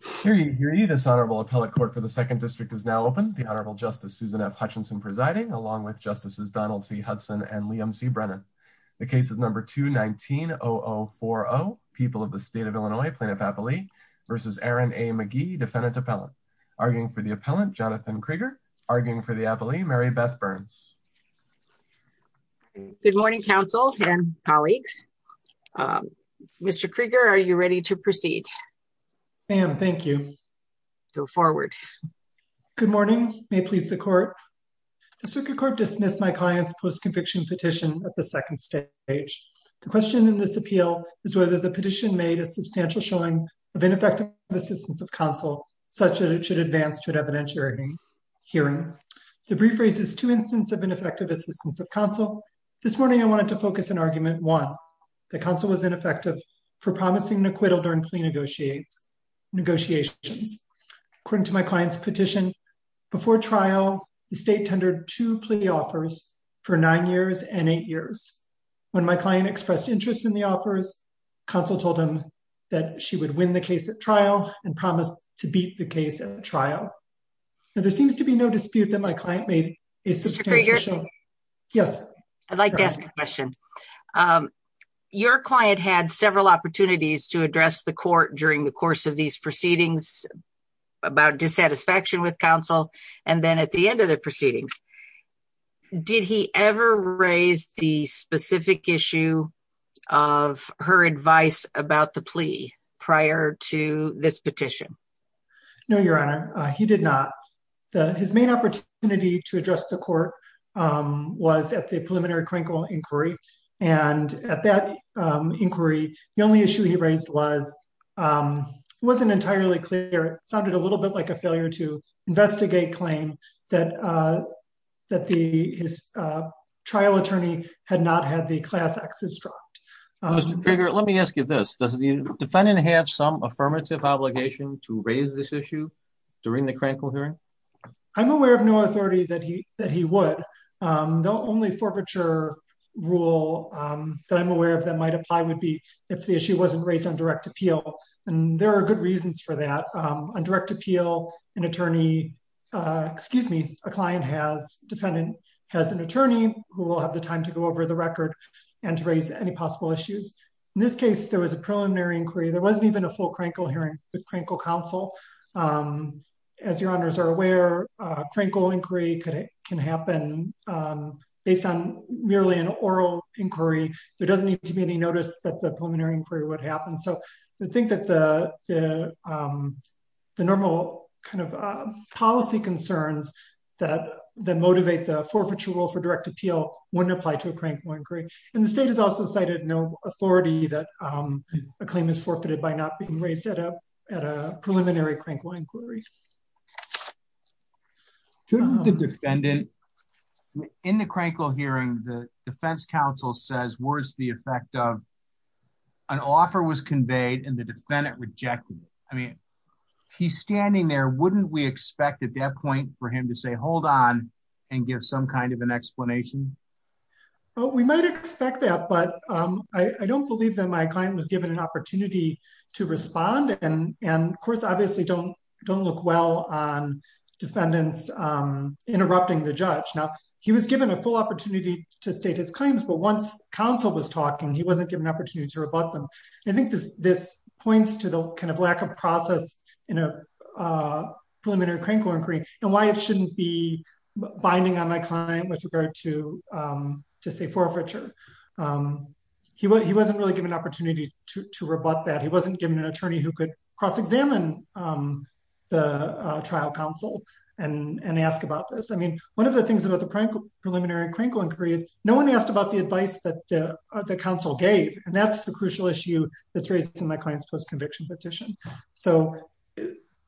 for the second district is now open. The Honorable Justice Susan F. Hutchinson presiding, along with Justices Donald C. Hudson and Liam C. Brennan. The case is number 219-0040, People of the State of Illinois Plaintiff-Appellee v. Aaron A. McGee, Defendant-Appellant. Arguing for the Appellant, Jonathan Krieger. Arguing for the Appellee, Mary Beth Burns. Good morning, counsel and colleagues. Mr. Krieger, are you ready to proceed? I am, thank you. Go forward. Good morning. May it please the Court. The Circuit Court dismissed my client's post-conviction petition at the second stage. The question in this appeal is whether the petition made a substantial showing of ineffective assistance of counsel, such that it should advance to effective assistance of counsel. This morning, I wanted to focus on Argument 1, that counsel was ineffective for promising an acquittal during plea negotiations. According to my client's petition, before trial, the State tendered two plea offers for nine years and eight years. When my client expressed interest in the offers, counsel told him that she would win the case at trial and promised to beat the case at trial. There seems to be no dispute that my client made a substantial showing... Mr. Krieger? Yes. I'd like to ask a question. Your client had several opportunities to address the Court during the course of these proceedings about dissatisfaction with counsel, and then at the end of the proceedings. Did he ever raise the specific issue of her advice about the plea prior to this petition? No, Your Honor. He did not. His main opportunity to address the Court was at the preliminary Krinkle inquiry, and at that inquiry, the only issue he raised wasn't entirely clear. It sounded a little bit like a failure to investigate claim that his trial attorney had not had the class X's dropped. Mr. Krieger, let me ask you this. Does the defendant have some obligation to raise this issue during the Krinkle hearing? I'm aware of no authority that he would. The only forfeiture rule that I'm aware of that might apply would be if the issue wasn't raised on direct appeal, and there are good reasons for that. On direct appeal, an attorney... excuse me, a client has... defendant has an attorney who will have the time to go over the record and to raise any possible issues. In this case, there was a preliminary inquiry. There wasn't even a full Krinkle hearing with Krinkle counsel. As Your Honors are aware, a Krinkle inquiry can happen based on merely an oral inquiry. There doesn't need to be any notice that the preliminary inquiry would happen, so I think that the normal kind of policy concerns that motivate the forfeiture rule for direct appeal wouldn't apply to a Krinkle inquiry, and the state has also cited no authority that a claim is forfeited by not being raised at a preliminary Krinkle inquiry. To the defendant, in the Krinkle hearing, the defense counsel says, where's the effect of an offer was conveyed and the defendant rejected it? I mean, he's standing there. Wouldn't we expect at that point for him to say, hold on, and give some kind of an explanation? Oh, we might expect that, but I don't believe that my client was given an opportunity to respond, and courts obviously don't look well on defendants interrupting the judge. Now, he was given a full opportunity to state his claims, but once counsel was talking, he wasn't given an opportunity to rebut them. I think this points to the kind of lack of process in a preliminary Krinkle inquiry and why it shouldn't be binding on my client with regard to say, forfeiture. He wasn't really given an opportunity to rebut that. He wasn't given an attorney who could cross-examine the trial counsel and ask about this. I mean, one of the things about the preliminary Krinkle inquiry is no one asked about the advice that the counsel gave, and that's the crucial issue that's raised in my client's post-conviction petition. So,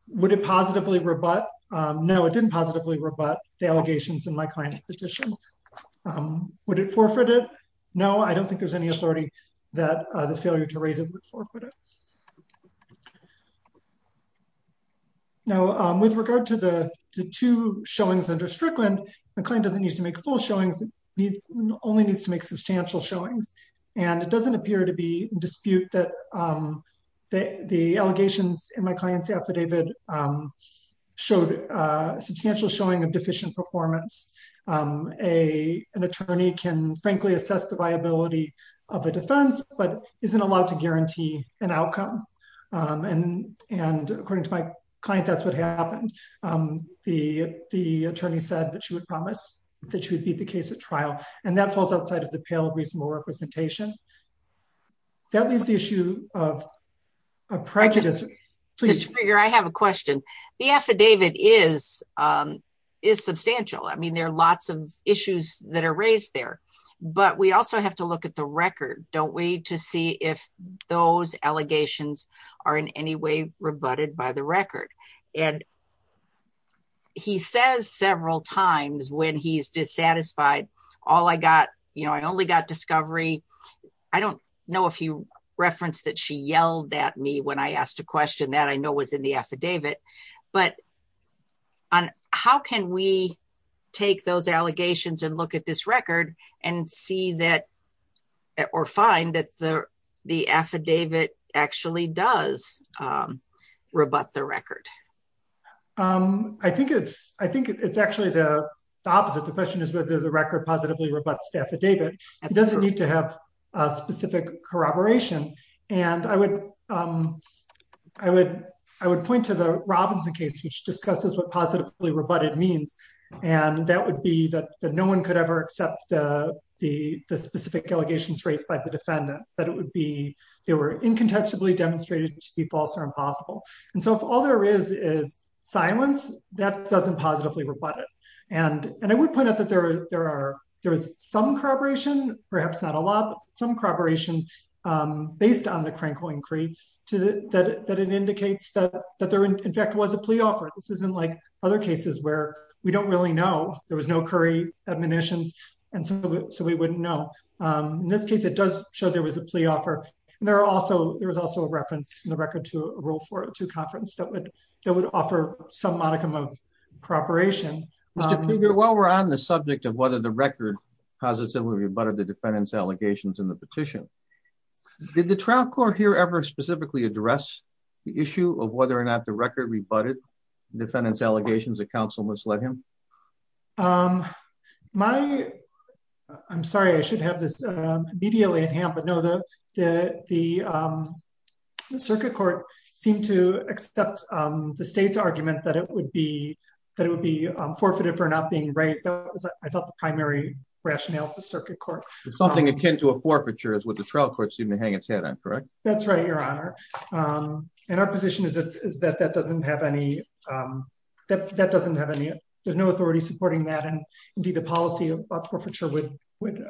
would it positively rebut? No, it didn't positively rebut the allegations in my client's petition. Would it forfeit it? No, I don't think there's any authority that the failure to raise it would forfeit it. Now, with regard to the two showings under Strickland, the client doesn't need to make full showings. He only needs to make substantial showings, and it doesn't appear to be in dispute that the allegations in my client's affidavit showed a substantial showing of deficient performance. An attorney can frankly assess the viability of a defense but isn't allowed to guarantee an outcome, and according to my client, that's what happened. The attorney said that she would promise that she would beat the case at trial, and that falls outside of the that leaves the issue of prejudice. I have a question. The affidavit is substantial. I mean, there are lots of issues that are raised there, but we also have to look at the record, don't we, to see if those allegations are in any way rebutted by the record, and he says several times when he's all I got, you know, I only got discovery. I don't know if you referenced that she yelled at me when I asked a question that I know was in the affidavit, but how can we take those allegations and look at this record and see that or find that the affidavit actually does rebut the record? I think it's actually the opposite. The question is whether the record positively rebuts the affidavit. It doesn't need to have a specific corroboration, and I would point to the Robinson case, which discusses what positively rebutted means, and that would be that no one could ever accept the specific allegations raised by the defendant, that it would be incontestably demonstrated to be false or impossible, and so if all there is is silence, that doesn't positively rebut it, and I would point out that there is some corroboration, perhaps not a lot, but some corroboration based on the Crankoin Creed that it indicates that there in fact was a plea offer. This isn't like other cases where we don't really know. There was no Curry admonitions, and so we wouldn't know. In this case, it does show there was a plea offer, and there was also a reference in the record to a conference that would offer some modicum of corroboration. Mr. Krieger, while we're on the subject of whether the record positively rebutted the defendant's allegations in the petition, did the trial court here ever specifically address the issue of whether or not the record rebutted the defendant's allegations that counsel misled him? I'm sorry, I should have this immediately at hand, but no, the circuit court seemed to accept the state's argument that it would be forfeited for not being raised. That was, I thought, the primary rationale of the circuit court. Something akin to a forfeiture is what the trial court seemed to hang its head on, correct? That's right, Your Honor, and our authority is supporting that. Indeed, the policy of forfeiture would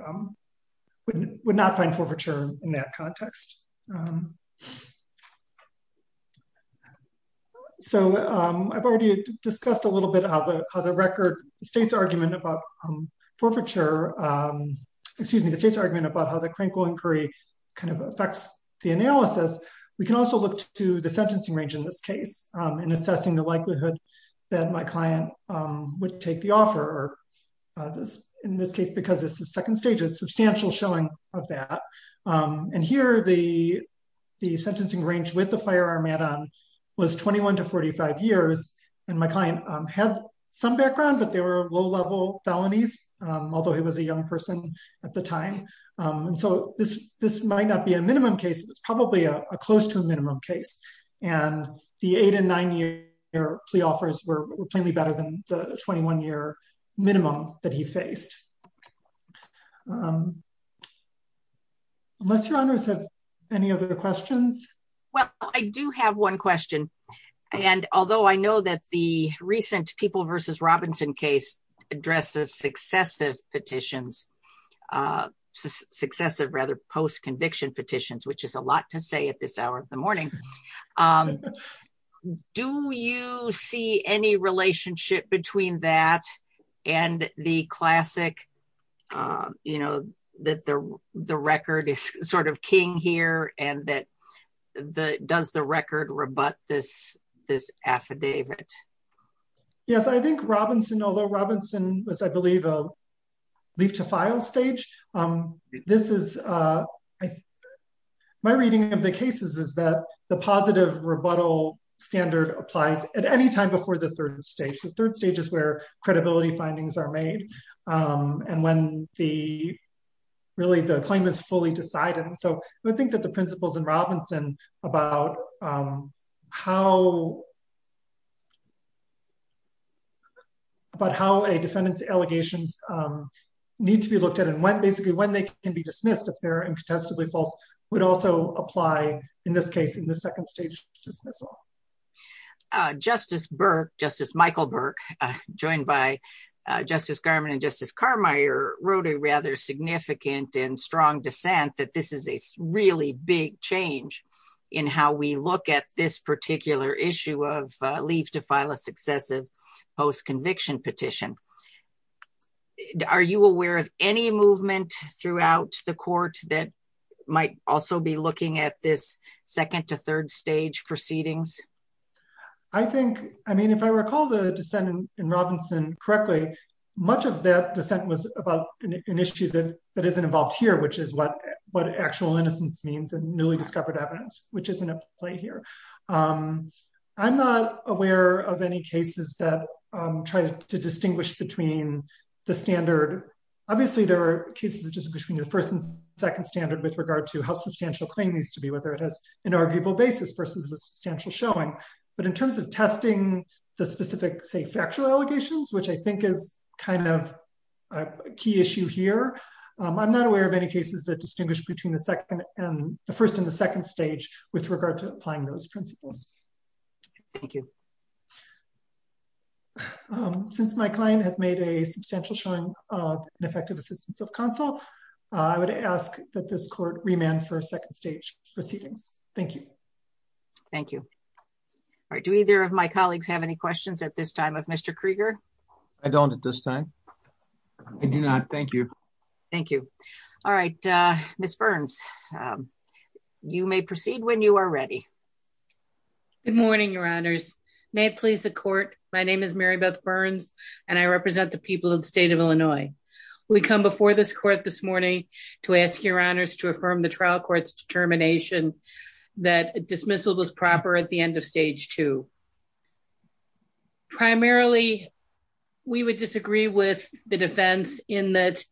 not find forfeiture in that context. I've already discussed a little bit how the record, the state's argument about forfeiture, excuse me, the state's argument about how the Crankville inquiry affects the analysis. We can also look to the sentencing range in this case in assessing the likelihood that my client would take the offer. In this case, because it's the second stage, a substantial showing of that. And here, the sentencing range with the firearm add-on was 21 to 45 years, and my client had some background, but they were low-level felonies, although he was a young person at the time. And so, this might not be a minimum case, but it's probably close to a minimum case. And the eight- and nine-year plea offers were plainly better than the 21-year minimum that he faced. Unless Your Honors have any other questions? Well, I do have one question, and although I know that the recent People v. Robinson case addresses successive petitions, successive rather post-conviction petitions, which is a lot to say at this hour of the morning, do you see any relationship between that and the classic, you know, that the record is sort of king here, and that does the record rebut this affidavit? Yes, I think Robinson, although Robinson was, I believe, a leave-to-file stage, this is, my reading of the cases is that the positive rebuttal standard applies at any time before the third stage. The third stage is where credibility findings are made, and when the, really, the claim is fully decided. And so, I think that the principles in Robinson about how a defendant's allegations need to be looked at, and when, basically, when they can be dismissed if they're incontestably false, would also apply, in this case, in the second stage dismissal. Justice Burke, Justice Michael Burke, joined by Justice Garmon and Justice Carmier, wrote a rather significant and strong dissent that this is a really big change in how we look at this particular issue of leave to file a successive post-conviction petition. Are you aware of any movement throughout the court that might also be looking at this second to third stage proceedings? I think, I mean, if I recall the dissent in Robinson correctly, much of that dissent was about an issue that isn't involved here, which is what actual innocence means and newly discovered evidence, which isn't up to play here. I'm not aware of any cases that try to distinguish between the standard. Obviously, there are cases that just between the first and second standard with regard to how substantial claim needs to be, whether it has an arguable basis versus a substantial showing. But in terms of testing the specific, say, factual allegations, which I think is kind of a key issue here, I'm not aware of any cases that distinguish between the first and the second stage with regard to applying those principles. Thank you. Since my client has made a substantial showing of an effective assistance of counsel, I would ask that this court remand for a second stage proceedings. Thank you. Thank you. All right. Do either of my colleagues have any questions at this time of Mr. Krieger? I don't at this time. I do not. Thank you. Thank you. All right. Ms. Burns, you may proceed when you are ready. Good morning, Your Honors. May it please the court, my name is Mary Beth Burns, and I represent the people of the state of Illinois. We come before this court this morning to ask Your Honors to affirm the trial court's determination that dismissal was proper at the end of stage two. Primarily, we would disagree with the defense in that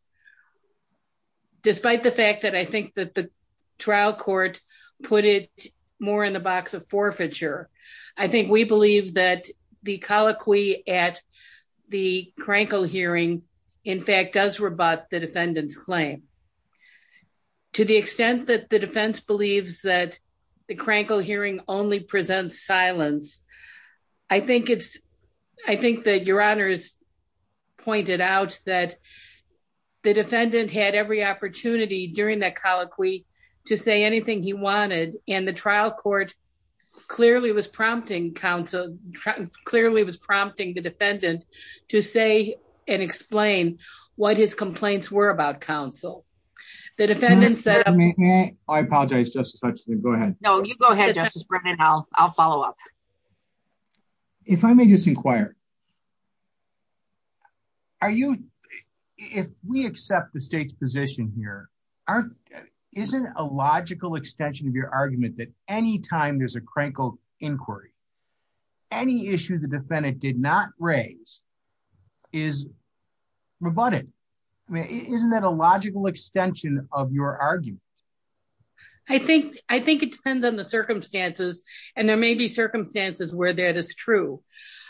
despite the fact that the trial court put it more in the box of forfeiture, I think we believe that the colloquy at the Krankel hearing, in fact, does rebut the defendant's claim. To the extent that the defense believes that the Krankel hearing only presents silence, I think that Your Honors pointed out that the defendant had every opportunity during that colloquy to say anything he wanted, and the trial court clearly was prompting the defendant to say and explain what his complaints were about counsel. The defendant said... I apologize, Justice Hutchinson. Go ahead. No, you go ahead, Justice Brennan. I'll follow up. If I may just inquire, if we accept the state's position here, isn't a logical extension of your argument that any time there's a Krankel inquiry, any issue the defendant did not raise is rebutted? Isn't that a logical extension of your argument? I think it depends on the circumstances, and there may be circumstances where that is true.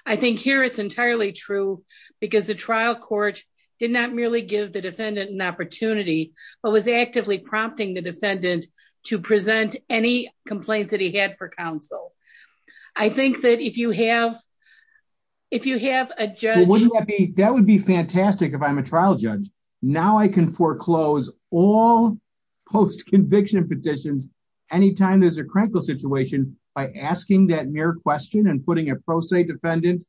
I think here it's entirely true because the trial court did not merely give the defendant an opportunity, but was actively prompting the defendant to present any complaints that he had for counsel. I think that if you have a judge... Petitions, any time there's a Krankel situation, by asking that mere question and putting a pro se defendant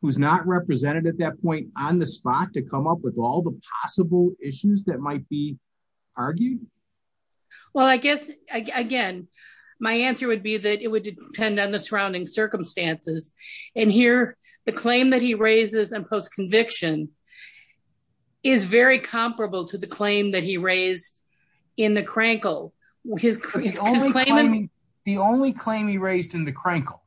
who's not represented at that point on the spot to come up with all the possible issues that might be argued. Well, I guess, again, my answer would be that it would depend on the surrounding circumstances, and here the claim that he Krankel... The only claim he raised in the Krankel,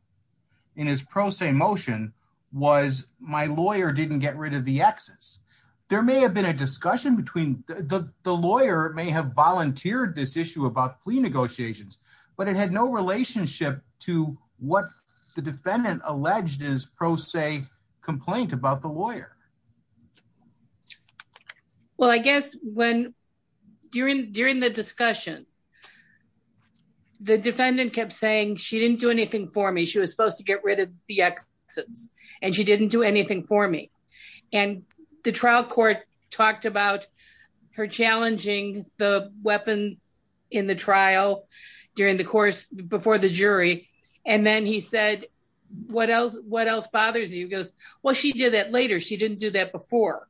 in his pro se motion, was my lawyer didn't get rid of the exes. There may have been a discussion between... The lawyer may have volunteered this issue about plea negotiations, but it had no relationship to what the defendant was proposing. The defendant kept saying, she didn't do anything for me. She was supposed to get rid of the exes, and she didn't do anything for me, and the trial court talked about her challenging the weapon in the trial during the course before the jury, and then he said, what else bothers you? He goes, well, she did that later. She didn't do that before.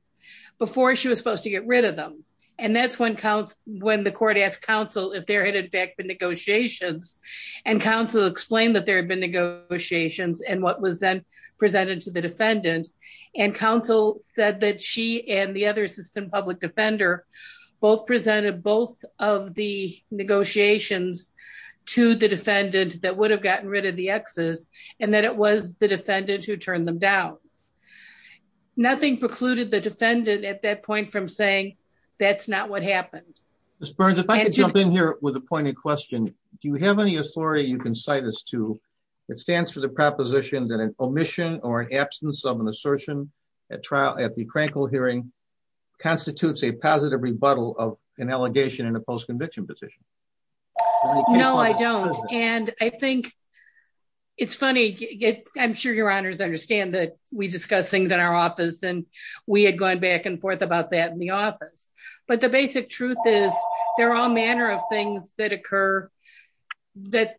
Before she was supposed to get rid of them, and that's when the court asked counsel if there had, in fact, been negotiations, and counsel explained that there had been negotiations and what was then presented to the defendant, and counsel said that she and the other assistant public defender both presented both of the negotiations to the defendant that would have gotten rid of the exes, and that it was the defendant who turned them down. Nothing precluded the defendant at that point from saying, that's not what happened. Ms. Burns, if I could jump in here with a pointed question. Do you have any authority you can cite us to that stands for the proposition that an omission or an absence of an assertion at the Krankel hearing constitutes a positive rebuttal of an allegation in a post-conviction position? No, I don't, and I think it's funny. I'm sure your honors understand that we discuss things in our office, and we had gone back and forth about that in the office, but the basic truth is there are all manner of things that occur that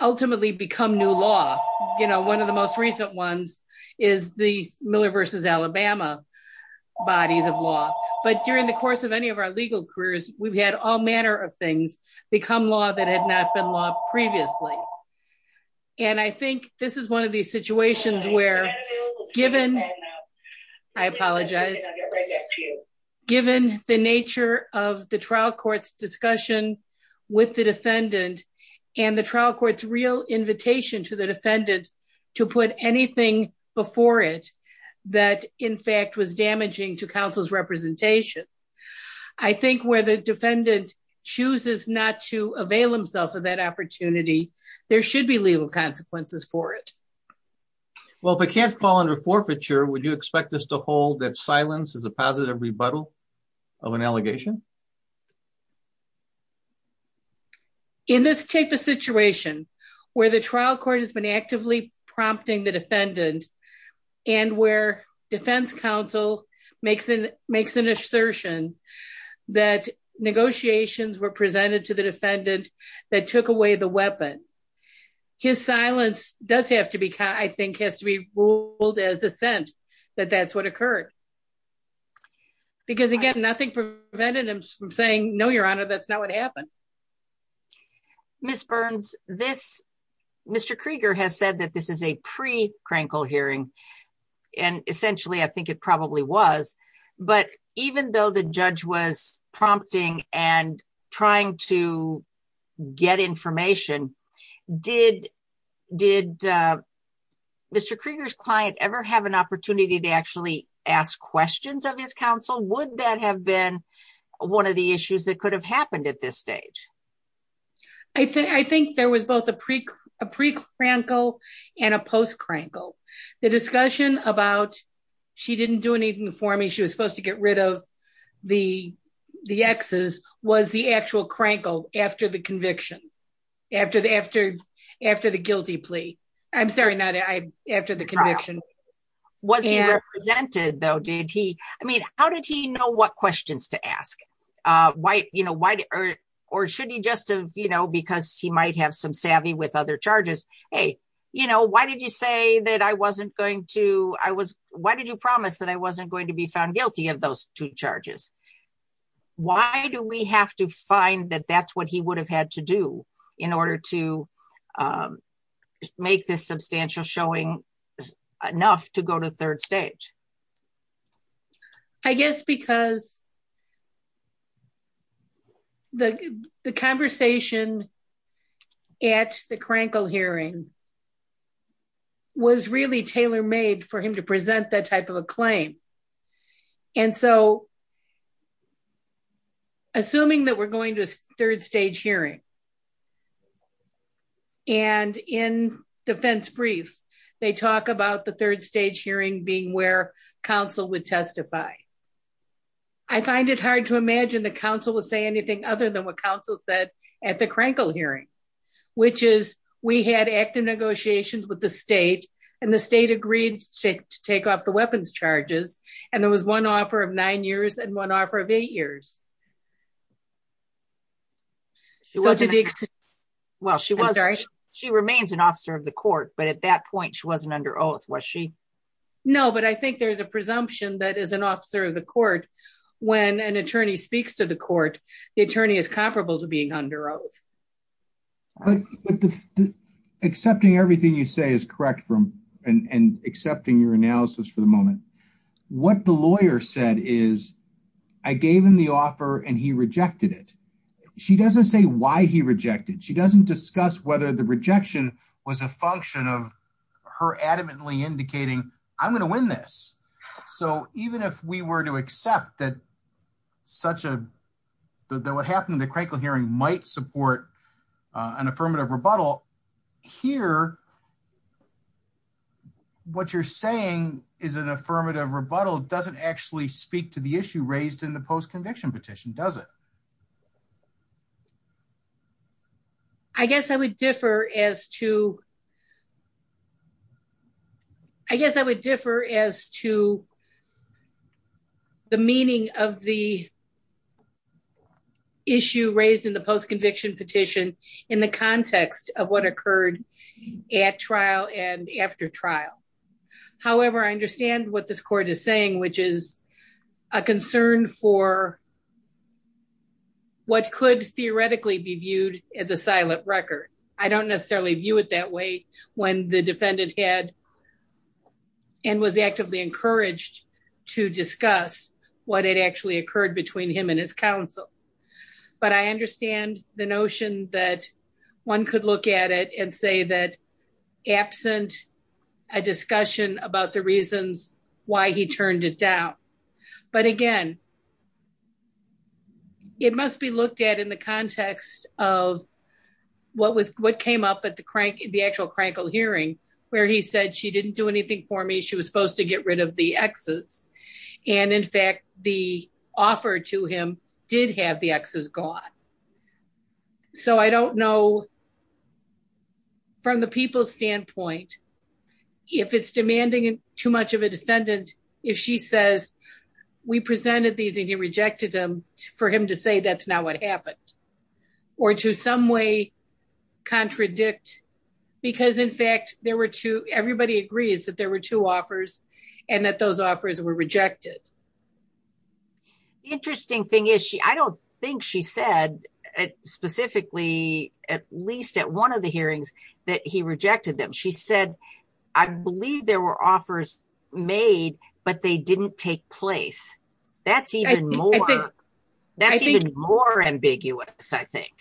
ultimately become new law. You know, one of the most recent ones is the Miller versus Alabama bodies of law, but during the course of any of our legal careers, we've had all manner of things become law that had not been law previously, and I think this is one of these situations where given, I apologize, given the nature of the trial court's discussion with the defendant, and the trial court's real invitation to the defendant to put anything before it that in fact was damaging to counsel's representation. I think where the defendant chooses not to avail himself of that opportunity, there should be legal consequences for it. Well, if it can't fall under forfeiture, would you expect us to hold that silence is a positive rebuttal of an allegation? In this type of situation where the trial court has been actively prompting the defendant, and where defense counsel makes an assertion that negotiations were presented to the defendant that took away the weapon, his silence does have to be, I think, has to be ruled as a sense that that's what occurred. Because again, nothing prevented him from saying, no, your honor, that's not what happened. Ms. Burns, this, Mr. Krieger has said that this is a pre-Krenkel hearing, and essentially I think it probably was, but even though the judge was prompting and trying to get information, did Mr. Krieger's client ever have an opportunity to actually ask questions of his counsel? Would that have been one of the issues that could have happened at this stage? I think there was both a pre-Krenkel and a post-Krenkel. The discussion about she didn't do anything for me, she was supposed to get rid of the exes, was the actual Krenkel after the conviction, after the guilty plea. I'm sorry, after the conviction. Was he represented though? How did he know what questions to ask? Or should he just have, because he might have some savvy with other charges, hey, why did you promise that I wasn't going to be found guilty of those two charges? Why do we have to find that that's what he would have had to do in order to make this substantial showing enough to go to third stage? I guess because the conversation at the Krenkel hearing was really tailor-made for him to present that type of a claim. Assuming that we're going to a third stage hearing, and in defense brief, they talk about the third stage hearing being where counsel would testify. I find it hard to imagine the counsel would say anything other than what counsel said at the Krenkel hearing, which is we had active negotiations with the state, and the state agreed to take off the weapons charges. There was one offer of nine years and one offer of eight years. She remains an officer of the court, but at that point, she wasn't under oath, was she? No, but I think there's a presumption that as an officer of the court, when an attorney speaks to the court, the attorney is comparable to being under oath. But accepting everything you say is correct and accepting your analysis for the moment. What the lawyer said is, I gave him the offer and he rejected it. She doesn't say why he rejected. She doesn't discuss whether the rejection was a function of her adamantly indicating, I'm going to win this. Even if we were to accept that what happened at the Krenkel hearing might support an affirmative rebuttal, here, what you're saying is an affirmative rebuttal doesn't actually speak to the issue raised in the post-conviction petition, does it? I guess I would differ as to the meaning of the the post-conviction petition in the context of what occurred at trial and after trial. However, I understand what this court is saying, which is a concern for what could theoretically be viewed as a silent record. I don't necessarily view it that way when the defendant had and was actively encouraged to discuss what had actually happened. I understand the notion that one could look at it and say that, absent a discussion about the reasons why he turned it down. But again, it must be looked at in the context of what came up at the actual Krenkel hearing, where he said, she didn't do anything for me. She was supposed to get rid of the Xs. And in fact, the offer to him did have the Xs gone. So I don't know, from the people's standpoint, if it's demanding too much of a defendant, if she says, we presented these and he rejected them, for him to say that's not what happened, or to some way contradict. Because in fact, there were two, everybody agrees that there were two offers that were rejected. The interesting thing is, I don't think she said, specifically, at least at one of the hearings, that he rejected them. She said, I believe there were offers made, but they didn't take place. That's even more, that's even more ambiguous, I think.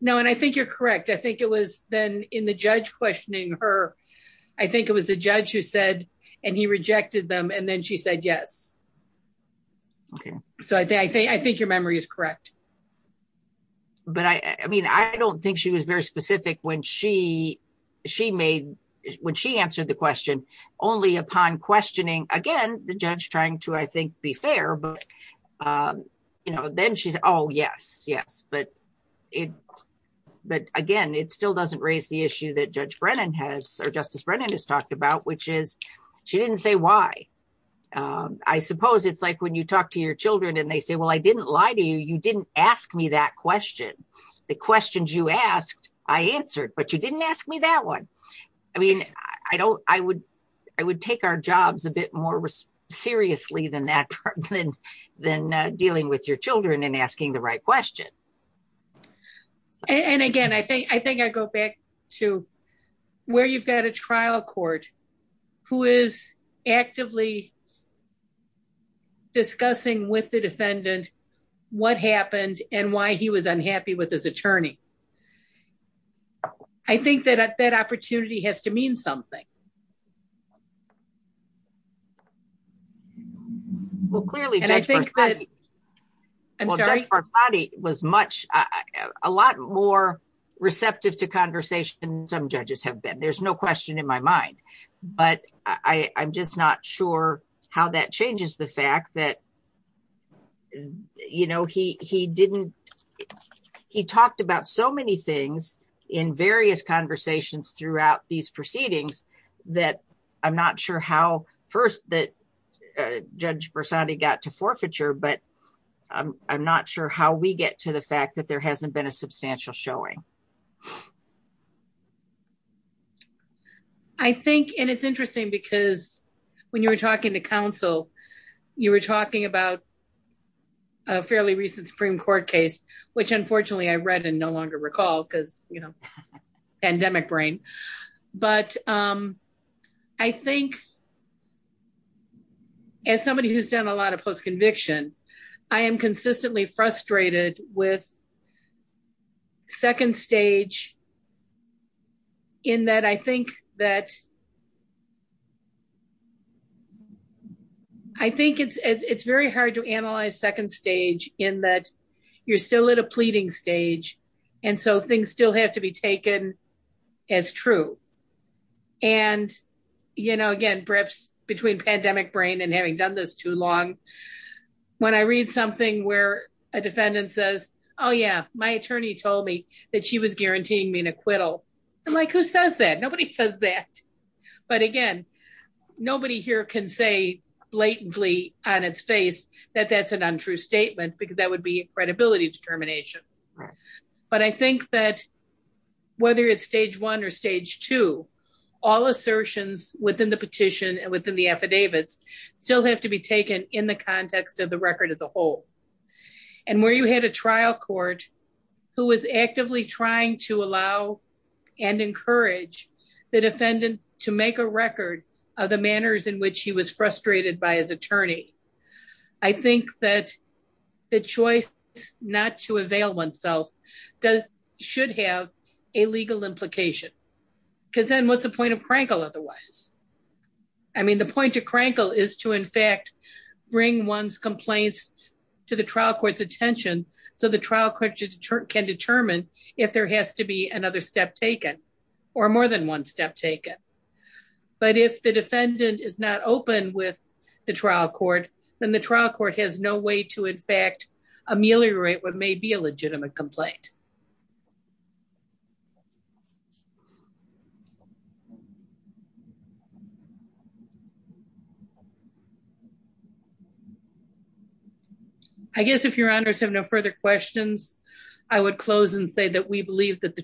No, and I think you're correct. I think it was then in the judge questioning her, I think it was the judge who said, and he rejected them, and then she said, yes. Okay. So I think your memory is correct. But I mean, I don't think she was very specific when she answered the question, only upon questioning, again, the judge trying to, I think, be fair, but then she's, oh, yes, but it, but again, it still doesn't raise the issue that Judge Brennan has, or Justice Brennan has talked about, which is, she didn't say why. I suppose it's like when you talk to your children, and they say, well, I didn't lie to you, you didn't ask me that question. The questions you asked, I answered, but you didn't ask me that one. I mean, I don't, I would, I would take our question. And again, I think, I think I go back to where you've got a trial court, who is actively discussing with the defendant, what happened and why he was unhappy with his attorney. I think that that opportunity has to mean something. Well, clearly, Judge Barslatti was much, a lot more receptive to conversation than some judges have been, there's no question in my mind. But I'm just not sure how that changes the fact that, you know, he didn't, he talked about so many things in various conversations throughout these proceedings, that I'm not sure how first that Judge Barslatti got to forfeiture, but I'm not sure how we get to the fact that there hasn't been a substantial showing. I think, and it's interesting, because when you were talking to counsel, you were talking about a fairly recent Supreme Court case, which unfortunately, I read and no longer recall, because, you know, pandemic brain. But I think, as somebody who's done a lot of post conviction, I am consistently frustrated with second stage, in that I think that I think it's, it's very hard to analyze second stage in that you're still at a pleading stage. And so things still have to be taken as true. And, you know, again, perhaps between pandemic brain and having done this too long. When I read something where a defendant says, Oh, yeah, my attorney told me that she was guaranteeing me an acquittal. And like, who says that nobody says that. But again, nobody here can say blatantly on its face, that that's an untrue statement, because that would be credibility determination. But I think that whether it's stage one or stage two, all assertions within the petition and within the affidavits still have to be taken in the context of the record as a whole. And where you had a trial court, who was actively trying to allow and encourage the defendant to make a record of the manners in which he was frustrated by as attorney. I think that the choice not to avail oneself does should have a legal implication. Because then what's the point of crankle otherwise? I mean, the point of crankle is to in fact, bring one's complaints to the trial court's attention. So the trial court can determine if there has to be another step taken, or more than one step taken. But if the defendant is not open with the trial court, then the trial court has no way to in fact, ameliorate what may be a legitimate complaint. I guess if your honors have no further questions, I would close and say that we believe that the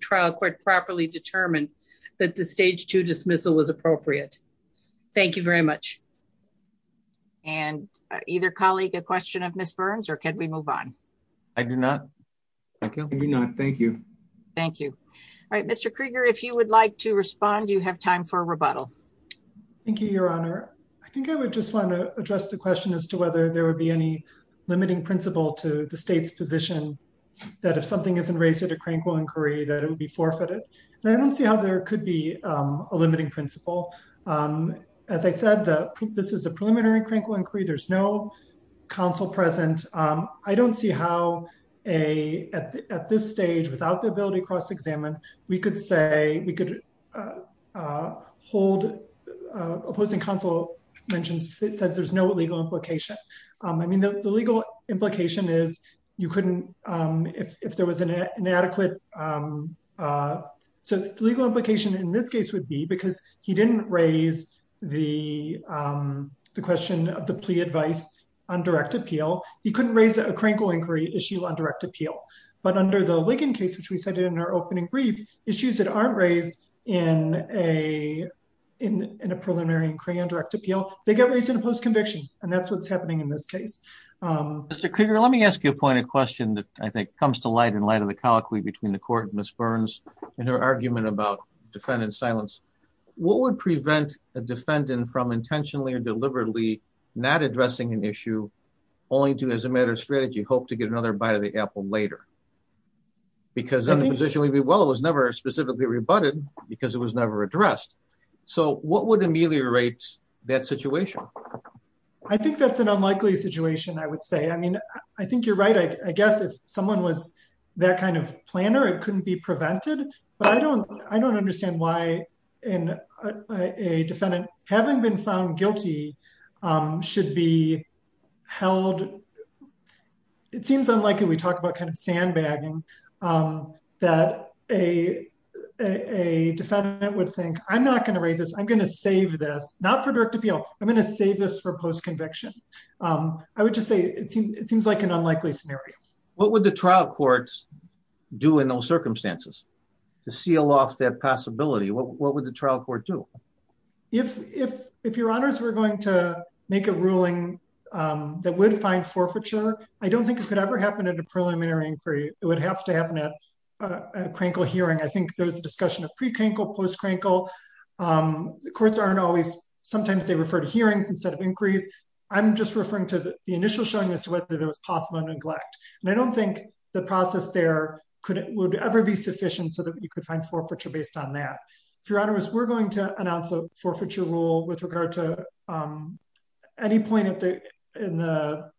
and either colleague a question of Miss Burns, or can we move on? I do not. Thank you. Thank you. All right, Mr. Krieger, if you would like to respond, you have time for rebuttal. Thank you, Your Honor. I think I would just want to address the question as to whether there would be any limiting principle to the state's position that if something isn't raised at a crankle inquiry, that it would be forfeited. And I don't see how there could be a limiting principle. As I said, this is a preliminary crankle inquiry, there's no counsel present. I don't see how a at this stage without the ability to cross examine, we could say we could hold opposing counsel mentioned, it says there's no legal implication. I mean, the legal implication is, you couldn't, if there was an inadequate. So the legal implication in this case would be because he didn't raise the question of the plea advice on direct appeal, he couldn't raise a crankle inquiry issue on direct appeal. But under the Lincoln case, which we cited in our opening brief issues that aren't raised in a preliminary inquiry on direct appeal, they get raised in a post conviction. And that's what's happening in this case. Mr. Krieger, let me ask you a pointed question that I think comes to light in light of the colloquy between the court and Ms. Burns, and her argument about defendant silence. What would prevent a defendant from intentionally or deliberately not addressing an issue, only to as a matter of strategy, hope to get another bite of the apple later? Because the position would be, well, it was never specifically rebutted, because it was never addressed. So what would ameliorate that situation? I think that's an unlikely situation, I would say. I mean, I think you're right. I guess if someone was that kind of planner, it couldn't be prevented. But I don't, I don't understand why in a defendant having been found guilty, should be held. It seems unlikely, we talked about kind of sandbagging, that a, a defendant would think, I'm not going to raise this, I'm going to save this, not for direct appeal, I'm going to save this for post conviction. I would just say, it seems like an unlikely scenario. What would the trial courts do in those circumstances? To seal off that possibility? What would the trial court do? If, if, if your honors, we're going to make a ruling that would find forfeiture, I don't think it could ever happen at a preliminary inquiry, it would have to happen at a crankle hearing, I think there's a discussion of pre-crankle, post-crankle. The courts aren't always, sometimes they refer to hearings instead of inquiries. I'm just referring to the initial showing as to whether there was possible neglect. And I don't think the process there could, would ever be sufficient so that you could find forfeiture based on that. If your honors, we're going to announce a forfeiture rule with regard to any point at the, in the,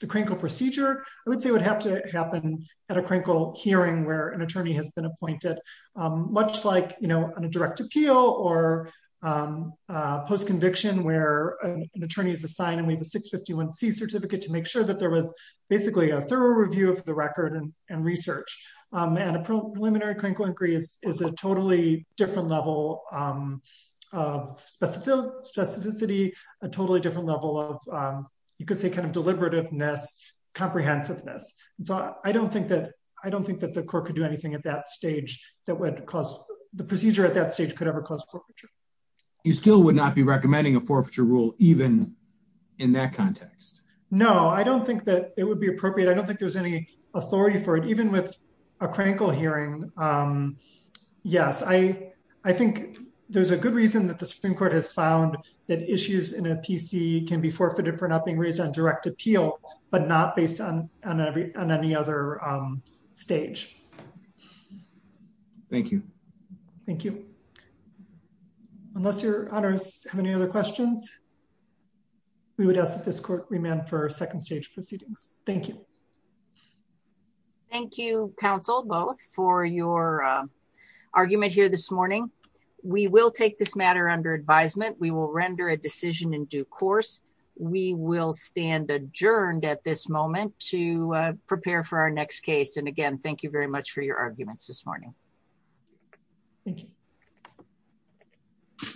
the crankle procedure, I would say would have to happen at a crankle hearing where an attorney has been appointed, much like, you know, on a direct appeal or post-conviction where an attorney is assigned and we have a 651c certificate to make sure that there was basically a thorough review of the record and research. And a preliminary crankle inquiry is, is a totally different level of specificity, a totally different level of, you could say, kind of deliberativeness, comprehensiveness. And so I don't think that, I don't think that the court could do anything at that stage that would cause, the procedure at that stage could cause forfeiture. You still would not be recommending a forfeiture rule, even in that context? No, I don't think that it would be appropriate. I don't think there's any authority for it, even with a crankle hearing. Yes. I, I think there's a good reason that the Supreme Court has found that issues in a PC can be forfeited for not being raised on direct appeal, but not based on, on every, on any other stage. Thank you. Thank you. Unless your honors have any other questions, we would ask that this court remand for second stage proceedings. Thank you. Thank you, counsel, both for your argument here this morning. We will take this matter under advisement. We will render a decision in due course. We will stand adjourned at this moment to prepare for our next case. And again, thank you very much for your arguments this morning. Thank you.